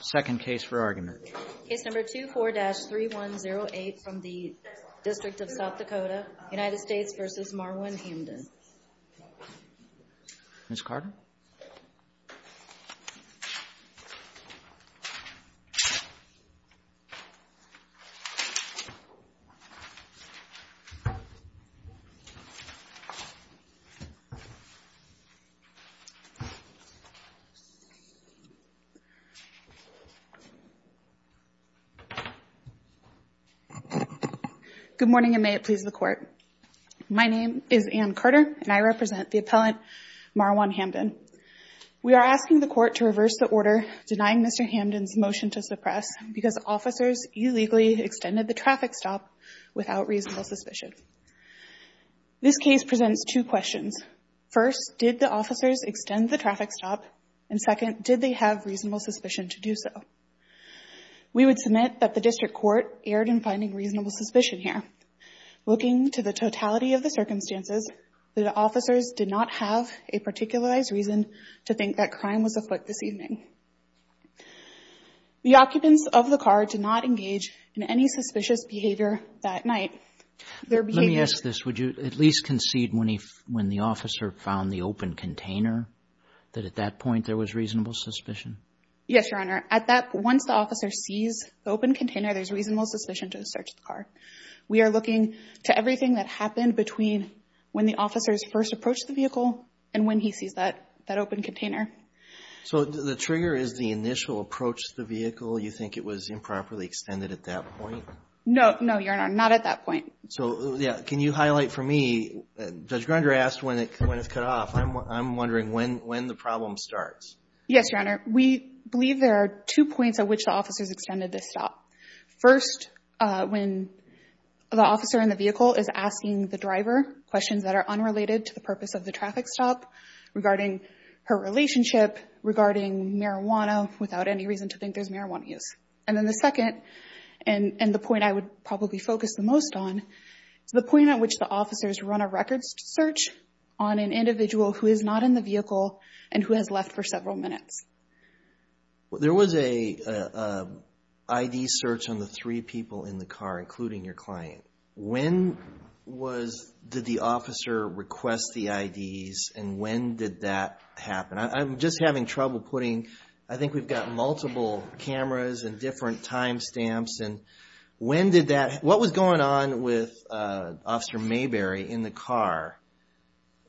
Second case for argument. Case number 24-3108 from the District of South Dakota, United States v. Marwan Hamdan. Ms. Carter? Good morning and may it please the court. My name is Anne Carter and I represent the appellant Marwan Hamdan. We are asking the court to reverse the order denying Mr. Hamdan's motion to suppress because officers illegally extended the traffic stop without reasonable suspicion. This case presents two questions. First, did the officers extend the traffic stop? And second, did they have reasonable suspicion to do so? We would submit that the district court erred in finding reasonable suspicion here. Looking to the totality of the circumstances, the officers did not have a particularized reason to think that crime was afoot this evening. The occupants of the car did not engage in any suspicious behavior that night. Let me ask this. Would you at least concede when the officer found the open container that at that point there was reasonable suspicion? Yes, Your Honor. Once the officer sees the open container, there's reasonable suspicion to search the car. We are looking to everything that happened between when the officers first approached the vehicle and when he sees that open container. So the trigger is the initial approach to the vehicle. You think it was improperly extended at that point? No, Your Honor. Not at that point. So can you highlight for me, Judge Grunder asked when it's cut off. I'm wondering when the problem starts. Yes, Your Honor. We believe there are two points at which the officers extended the stop. First, when the officer in the vehicle is asking the driver questions that are unrelated to the purpose of the traffic stop regarding her relationship, regarding marijuana, without any reason to think there's marijuana use. And then the second, and the point I would probably focus the most on, is the point at which the officers run a records search on an individual who is not in the vehicle and who has left for several minutes. There was an ID search on the three people in the car, including your client. When did the officer request the IDs and when did that happen? I'm just having trouble putting, I think we've got multiple cameras and different time stamps and when did that, what was going on with Officer Mayberry in the car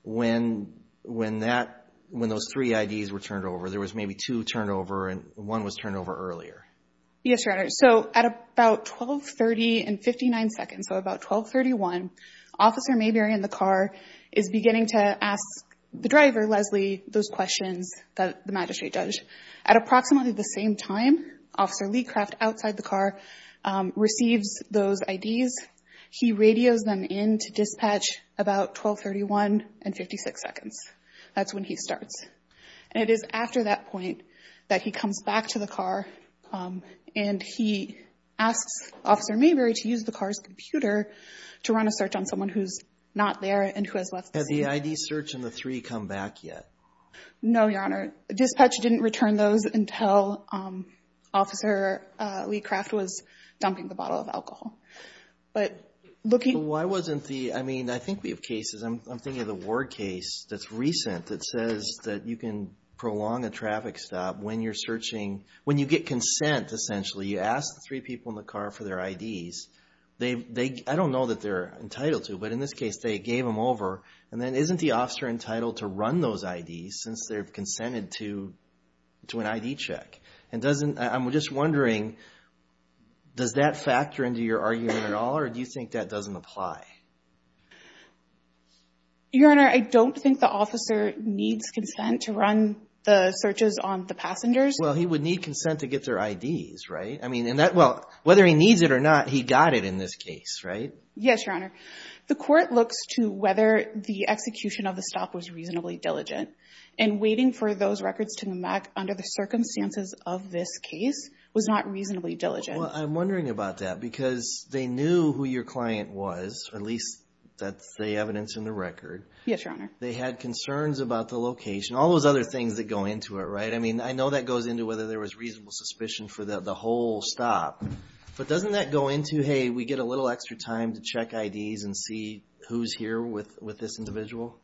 when that, when those three IDs were turned over? There was maybe two turned over and one was turned over earlier. Yes, Your Honor. So at about 1230 and 59 seconds, so about 1231, Officer Mayberry in the car is beginning to ask the driver, Leslie, those questions that the magistrate does. At approximately the same time, Officer Leacraft outside the car receives those IDs. He radios them in to dispatch about 1231 and 56 seconds. That's when he starts. And it is after that point that he comes back to the car and he asks Officer Mayberry to use the car's computer to run a search on someone who's not there and who has left the scene. Has the ID search on the three come back yet? No, Your Honor. Dispatch didn't return those until Officer Leacraft was dumping the bottle of alcohol. Why wasn't the, I mean, I think we have cases, I'm thinking of the Ward case that's recent that says that you can prolong a traffic stop when you're searching, when you get consent essentially. You ask the three people in the car for their IDs. I don't know that they're entitled to, but in this case they gave them over. And then isn't the officer entitled to run those IDs since they've consented to an ID check? And doesn't, I'm just wondering, does that factor into your argument at all or do you think that doesn't apply? Your Honor, I don't think the officer needs consent to run the searches on the passengers. Well, he would need consent to get their IDs, right? I mean, and that, well, whether he needs it or not, he got it in this case, right? Yes, Your Honor. The court looks to whether the execution of the stop was reasonably diligent. And waiting for those records to come back under the circumstances of this case was not reasonably diligent. Well, I'm wondering about that because they knew who your client was, at least that's the evidence in the record. Yes, Your Honor. They had concerns about the location, all those other things that go into it, right? I mean, I know that goes into whether there was reasonable suspicion for the whole stop. But doesn't that go into, hey, we get a little extra time to check IDs and see who's here with this individual?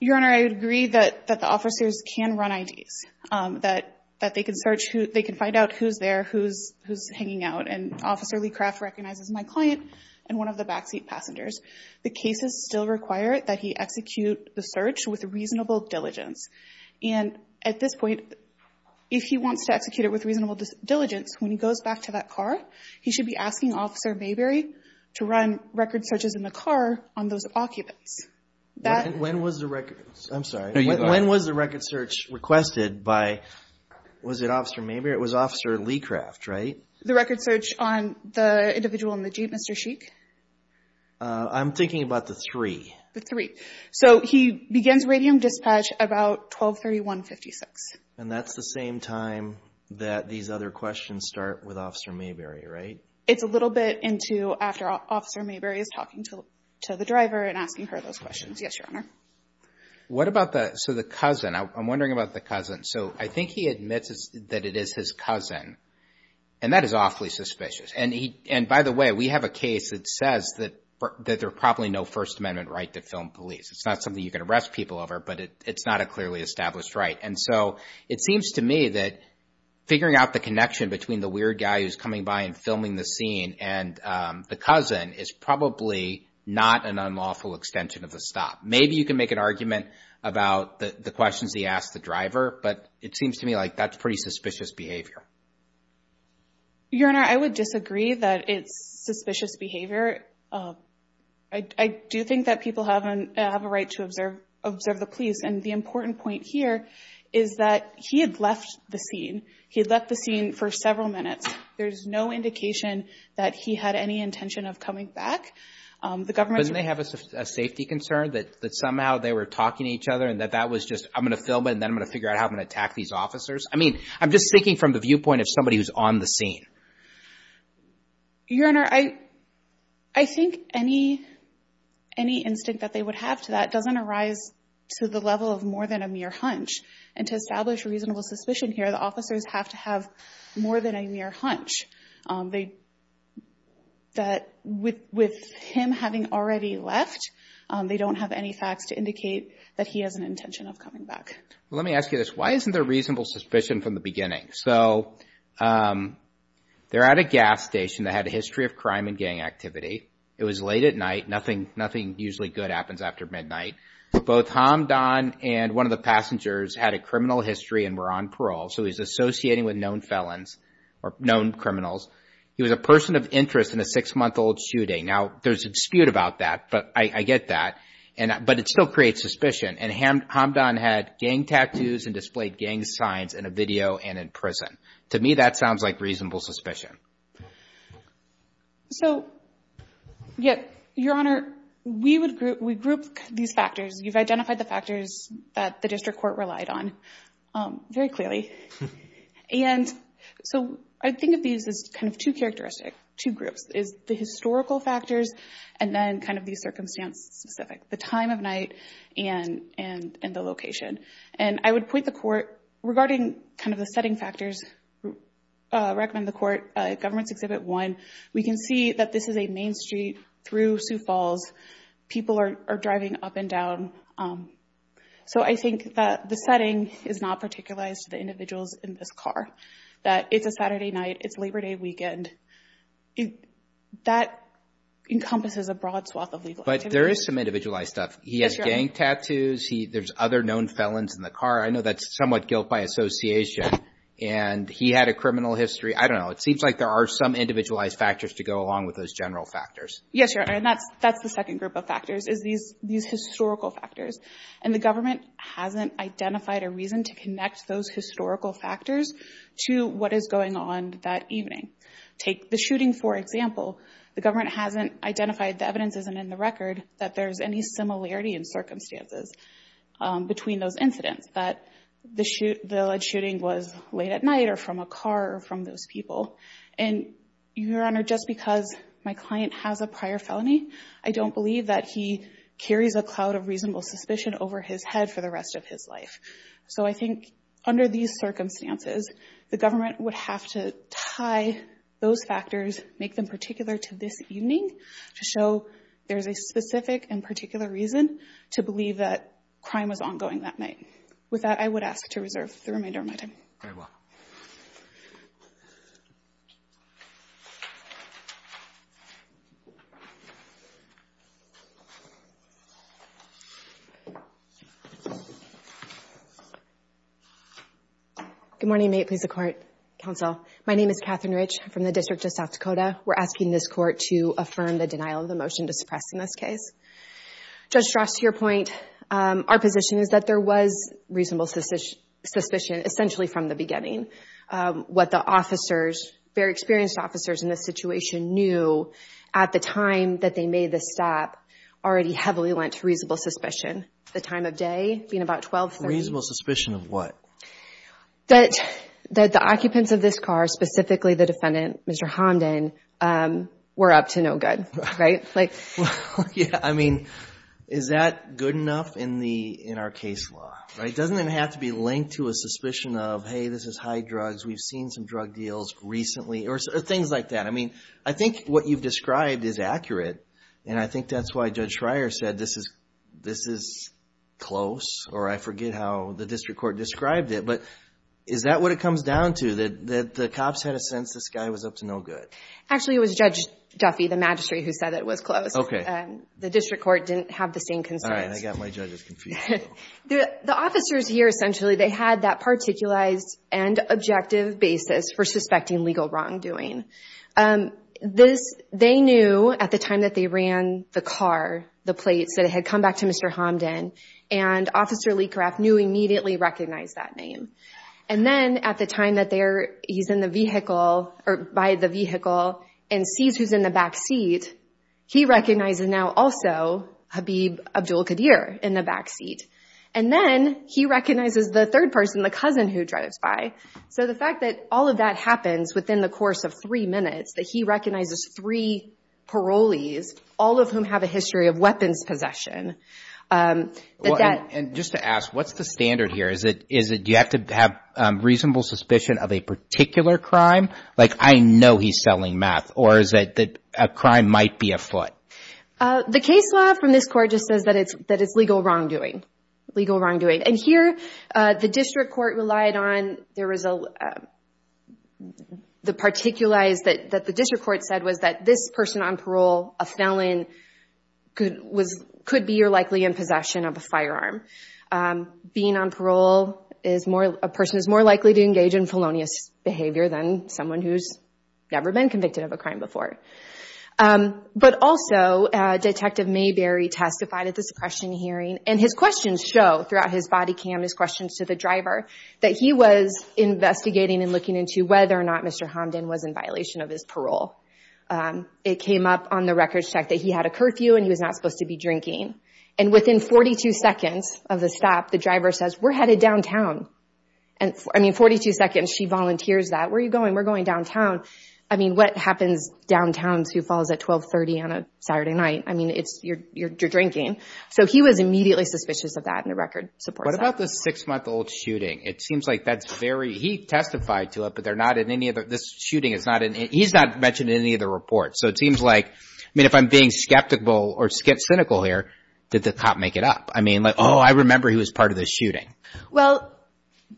Your Honor, I agree that the officers can run IDs, that they can search, they can find out who's there, who's hanging out. And Officer LeCraft recognizes my client and one of the backseat passengers. The cases still require that he execute the search with reasonable diligence. And at this point, if he wants to execute it with reasonable diligence, when he goes back to that car, he should be asking Officer Mayberry to run record searches in the car on those occupants. When was the record search requested by, was it Officer Mayberry? It was Officer LeCraft, right? The record search on the individual in the Jeep, Mr. Sheik. I'm thinking about the three. The three. So he begins radium dispatch about 1231-56. And that's the same time that these other questions start with Officer Mayberry, right? It's a little bit into after Officer Mayberry is talking to the driver and asking her those questions. Yes, Your Honor. What about the, so the cousin, I'm wondering about the cousin. So I think he admits that it is his cousin, and that is awfully suspicious. And by the way, we have a case that says that there's probably no First Amendment right to film police. It's not something you can arrest people over, but it's not a clearly established right. And so it seems to me that figuring out the connection between the weird guy who's coming by and filming the scene and the cousin is probably not an unlawful extension of the stop. Maybe you can make an argument about the questions he asked the driver, but it seems to me like that's pretty suspicious behavior. Your Honor, I would disagree that it's suspicious behavior. I do think that people have a right to observe the police. And the important point here is that he had left the scene. He had left the scene for several minutes. There's no indication that he had any intention of coming back. Doesn't he have a safety concern that somehow they were talking to each other and that that was just, I'm going to film it and then I'm going to figure out how I'm going to attack these officers? I mean, I'm just speaking from the viewpoint of somebody who's on the scene. Your Honor, I think any instinct that they would have to that doesn't arise to the level of more than a mere hunch. And to establish reasonable suspicion here, the officers have to have more than a mere hunch. With him having already left, they don't have any facts to indicate that he has an intention of coming back. Well, let me ask you this. Why isn't there reasonable suspicion from the beginning? So they're at a gas station that had a history of crime and gang activity. It was late at night. Nothing usually good happens after midnight. Both Hamdan and one of the passengers had a criminal history and were on parole. So he's associating with known felons or known criminals. He was a person of interest in a six-month-old shooting. Now, there's a dispute about that, but I get that. But it still creates suspicion. And Hamdan had gang tattoos and displayed gang signs in a video and in prison. To me, that sounds like reasonable suspicion. So, your Honor, we grouped these factors. You've identified the factors that the district court relied on very clearly. And so I think of these as kind of two characteristics, two groups, is the historical factors and then kind of the circumstance-specific, the time of night and the location. And I would point the court, regarding kind of the setting factors, recommend the court, Government's Exhibit 1, we can see that this is a main street through Sioux Falls. People are driving up and down. So I think that the setting is not particularized to the individuals in this car, that it's a Saturday night, it's Labor Day weekend. That encompasses a broad swath of legal activity. But there is some individualized stuff. He has gang tattoos. There's other known felons in the car. I know that's somewhat guilt by association. And he had a criminal history. I don't know. It seems like there are some individualized factors to go along with those general factors. Yes, Your Honor. And that's the second group of factors, is these historical factors. And the government hasn't identified a reason to connect those historical factors to what is going on that evening. Take the shooting, for example. The government hasn't identified, the evidence isn't in the record, that there's any similarity in circumstances between those incidents. That the lead shooting was late at night or from a car or from those people. And, Your Honor, just because my client has a prior felony, I don't believe that he carries a cloud of reasonable suspicion over his head for the rest of his life. So I think under these circumstances, the government would have to tie those factors, make them particular to this evening, to show there's a specific and particular reason to believe that crime was ongoing that night. With that, I would ask to reserve the remainder of my time. Very well. Good morning. May it please the Court, Counsel. My name is Catherine Rich from the District of South Dakota. We're asking this Court to affirm the denial of the motion to suppress in this case. Judge Strauss, to your point, our position is that there was reasonable suspicion, essentially from the beginning. What the officers, very experienced officers in this situation, knew at the time that they made this stop already heavily lent to reasonable suspicion. The time of day being about 1230. Reasonable suspicion of what? That the occupants of this car, specifically the defendant, Mr. Homden, were up to no good. Yeah, I mean, is that good enough in our case law? Doesn't it have to be linked to a suspicion of, hey, this is high drugs, we've seen some drug deals recently, or things like that. I mean, I think what you've described is accurate, and I think that's why Judge Schreier said this is close, or I forget how the District Court described it, but is that what it comes down to, that the cops had a sense this guy was up to no good? Actually, it was Judge Duffy, the magistrate, who said it was close. Okay. The District Court didn't have the same concerns. All right, I got my judges confused. The officers here, essentially, they had that particularized and objective basis for suspecting legal wrongdoing. They knew at the time that they ran the car, the plates, that it had come back to Mr. Homden, and Officer Leekrath knew immediately recognized that name. And then at the time that he's in the vehicle, or by the vehicle, and sees who's in the back seat, he recognizes now also Habib Abdul-Qadir in the back seat. And then he recognizes the third person, the cousin who drives by. So the fact that all of that happens within the course of three minutes, that he recognizes three parolees, all of whom have a history of weapons possession. And just to ask, what's the standard here? Do you have to have reasonable suspicion of a particular crime? Like, I know he's selling meth. Or is it that a crime might be afoot? The case law from this court just says that it's legal wrongdoing, legal wrongdoing. And here, the district court relied on, there was a, the particulars that the district court said was that this person on parole, a felon, could be or likely in possession of a firearm. Being on parole, a person is more likely to engage in felonious behavior than someone who's never been convicted of a crime before. But also, Detective Mayberry testified at the suppression hearing, and his questions show throughout his body cam, his questions to the driver, that he was investigating and looking into whether or not Mr. Hamden was in violation of his parole. It came up on the records check that he had a curfew and he was not supposed to be drinking. And within 42 seconds of the stop, the driver says, we're headed downtown. And, I mean, 42 seconds, she volunteers that. Where are you going? We're going downtown. I mean, what happens downtown to who falls at 1230 on a Saturday night? I mean, it's, you're drinking. So he was immediately suspicious of that, and the record supports that. What about the six-month-old shooting? It seems like that's very, he testified to it, but they're not in any of the, this shooting is not in, he's not mentioned in any of the reports. So it seems like, I mean, if I'm being skeptical or cynical here, did the cop make it up? I mean, like, oh, I remember he was part of the shooting. Well,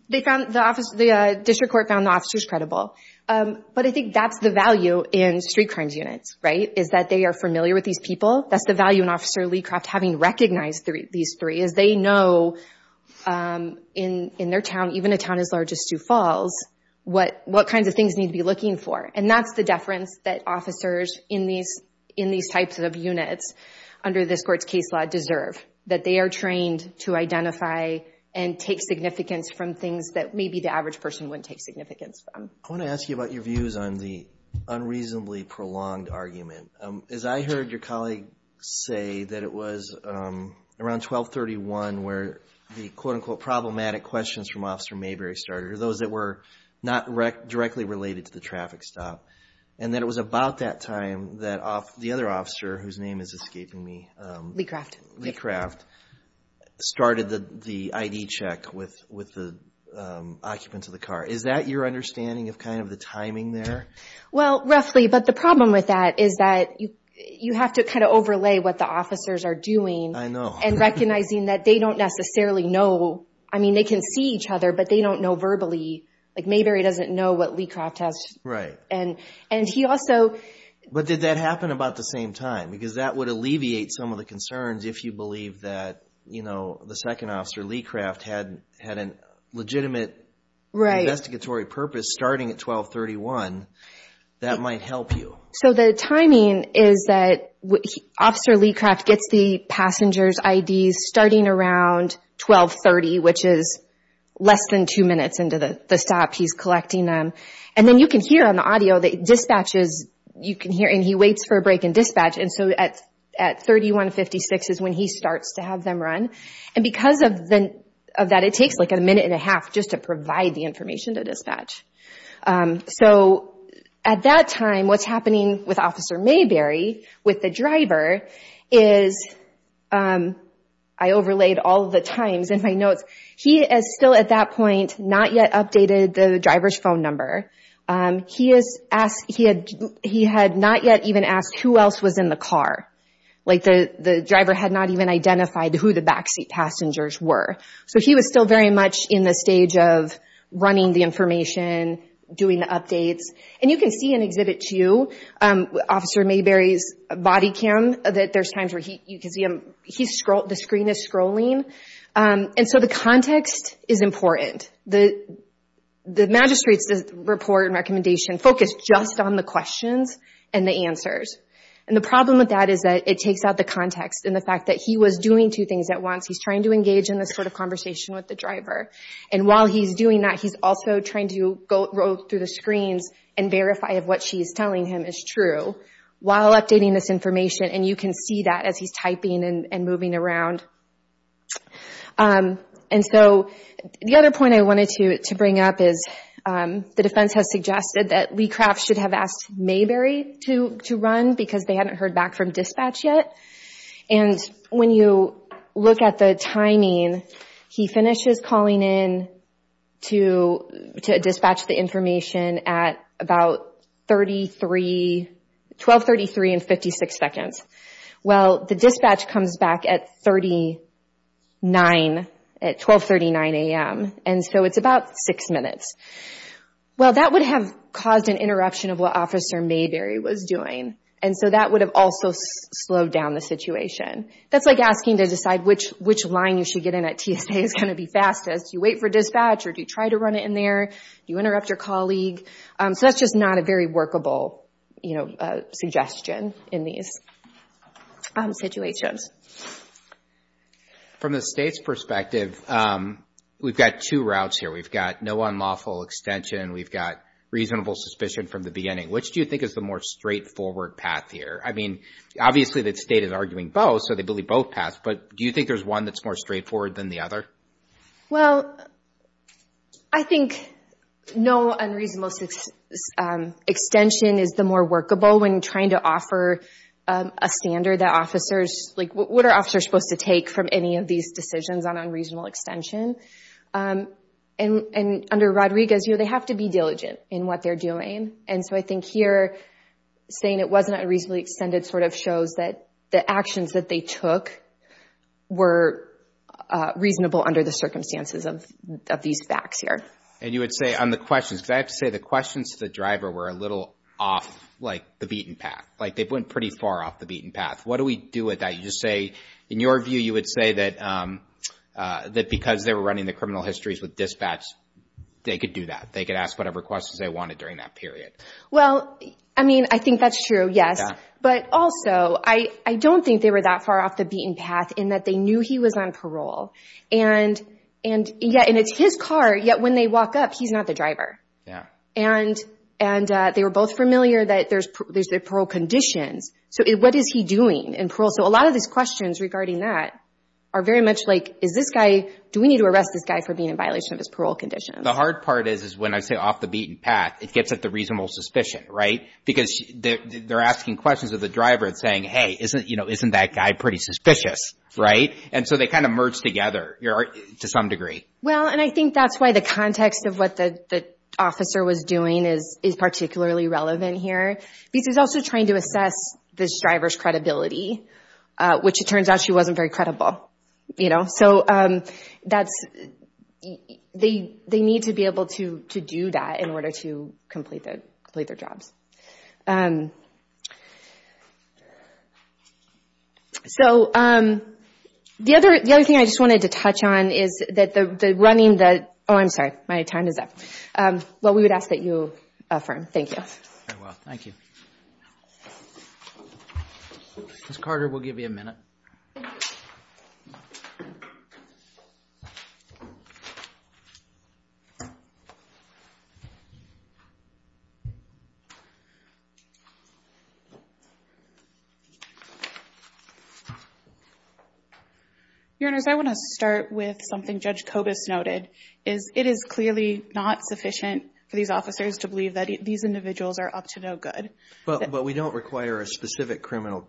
they found, the district court found the officers credible. But I think that's the value in street crimes units, right, is that they are familiar with these people. That's the value in Officer Leecroft having recognized these three, is they know in their town, even a town as large as Sioux Falls, what kinds of things need to be looking for. And that's the deference that officers in these types of units under this court's case law deserve, that they are trained to identify and take significance from things that maybe the average person wouldn't take significance from. I want to ask you about your views on the unreasonably prolonged argument. As I heard your colleague say that it was around 1231 where the, quote, unquote, problematic questions from Officer Mayberry started, or those that were not directly related to the traffic stop, and that it was about that time that the other officer, whose name is escaping me. Leecroft. Leecroft started the ID check with the occupants of the car. Is that your understanding of kind of the timing there? Well, roughly. But the problem with that is that you have to kind of overlay what the officers are doing. I know. And recognizing that they don't necessarily know. I mean, they can see each other, but they don't know verbally. Like, Mayberry doesn't know what Leecroft has. Right. And he also- But did that happen about the same time? Because that would alleviate some of the concerns if you believe that, you know, the second officer, Leecroft, had a legitimate investigatory purpose starting at 1231, that might help you. So the timing is that Officer Leecroft gets the passengers' IDs starting around 1230, which is less than two minutes into the stop he's collecting them. And then you can hear on the audio that dispatches, you can hear, and he waits for a break in dispatch. And so at 3156 is when he starts to have them run. And because of that, it takes like a minute and a half just to provide the information to dispatch. So at that time, what's happening with Officer Mayberry, with the driver, is I overlaid all the times in my notes. He is still at that point, not yet updated the driver's phone number. He had not yet even asked who else was in the car. Like the driver had not even identified who the backseat passengers were. So he was still very much in the stage of running the information, doing the updates. And you can see in Exhibit 2, Officer Mayberry's body cam, that there's times where you can see him. The screen is scrolling. And so the context is important. The magistrate's report and recommendation focus just on the questions and the answers. And the problem with that is that it takes out the context and the fact that he was doing two things at once. He's trying to engage in this sort of conversation with the driver. And while he's doing that, he's also trying to go through the screens and verify if what she's telling him is true, while updating this information. And you can see that as he's typing and moving around. And so the other point I wanted to bring up is the defense has suggested that LeCraft should have asked Mayberry to run because they hadn't heard back from dispatch yet. And when you look at the timing, he finishes calling in to dispatch the information at about 12.33 and 56 seconds. Well, the dispatch comes back at 12.39 a.m. And so it's about six minutes. Well, that would have caused an interruption of what Officer Mayberry was doing. And so that would have also slowed down the situation. That's like asking to decide which line you should get in at TSA is going to be fastest. Do you wait for dispatch or do you try to run it in there? Do you interrupt your colleague? So that's just not a very workable suggestion in these situations. From the state's perspective, we've got two routes here. We've got no unlawful extension. We've got reasonable suspicion from the beginning. Which do you think is the more straightforward path here? I mean, obviously the state is arguing both, so they believe both paths. But do you think there's one that's more straightforward than the other? Well, I think no unreasonable extension is the more workable when trying to offer a standard that officers— like what are officers supposed to take from any of these decisions on unreasonable extension? And under Rodriguez, you know, they have to be diligent in what they're doing. And so I think here saying it wasn't a reasonably extended sort of shows that the actions that they took were reasonable under the circumstances of these facts here. And you would say on the questions, because I have to say the questions to the driver were a little off, like the beaten path. Like they went pretty far off the beaten path. What do we do with that? You just say, in your view, you would say that because they were running the criminal histories with dispatch, they could do that. They could ask whatever questions they wanted during that period. Well, I mean, I think that's true, yes. But also, I don't think they were that far off the beaten path in that they knew he was on parole. And yet—and it's his car, yet when they walk up, he's not the driver. Yeah. And they were both familiar that there's the parole conditions. So what is he doing in parole? So a lot of these questions regarding that are very much like, is this guy—do we need to arrest this guy for being in violation of his parole conditions? The hard part is when I say off the beaten path, it gets at the reasonable suspicion, right? Because they're asking questions of the driver and saying, hey, isn't that guy pretty suspicious, right? And so they kind of merge together to some degree. Well, and I think that's why the context of what the officer was doing is particularly relevant here. Because he's also trying to assess this driver's credibility, which it turns out she wasn't very credible. So that's—they need to be able to do that in order to complete their jobs. So the other thing I just wanted to touch on is that the running—oh, I'm sorry. My time is up. Well, we would ask that you affirm. Thank you. Thank you. Ms. Carter, we'll give you a minute. Your Honors, I want to start with something Judge Kobus noted, is it is clearly not sufficient for these officers to believe that these individuals are up to no good. But we don't require a specific criminal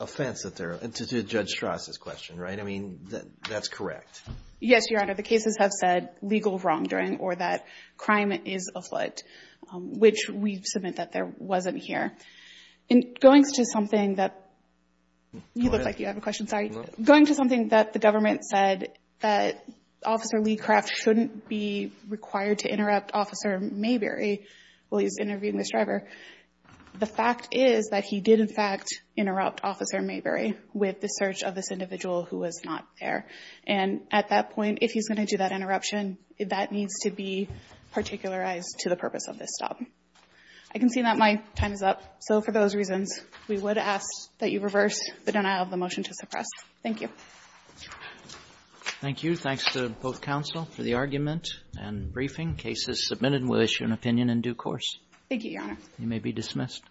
offense that they're—to Judge Strass' question, right? I mean, that's correct. Yes, Your Honor. The cases have said legal wrongdoing or that crime is afoot, which we submit that there wasn't here. And going to something that—you look like you have a question. Going to something that the government said that Officer Lee Craft shouldn't be required to interrupt Officer Mayberry while he's interviewing this driver, the fact is that he did, in fact, interrupt Officer Mayberry with the search of this individual who was not there. And at that point, if he's going to do that interruption, that needs to be particularized to the purpose of this stop. I can see that my time is up. So for those reasons, we would ask that you reverse the denial of the motion to suppress. Thank you. Thank you. Thanks to both counsel for the argument and briefing. Case is submitted. We'll issue an opinion in due course. Thank you, Your Honor. You may be dismissed.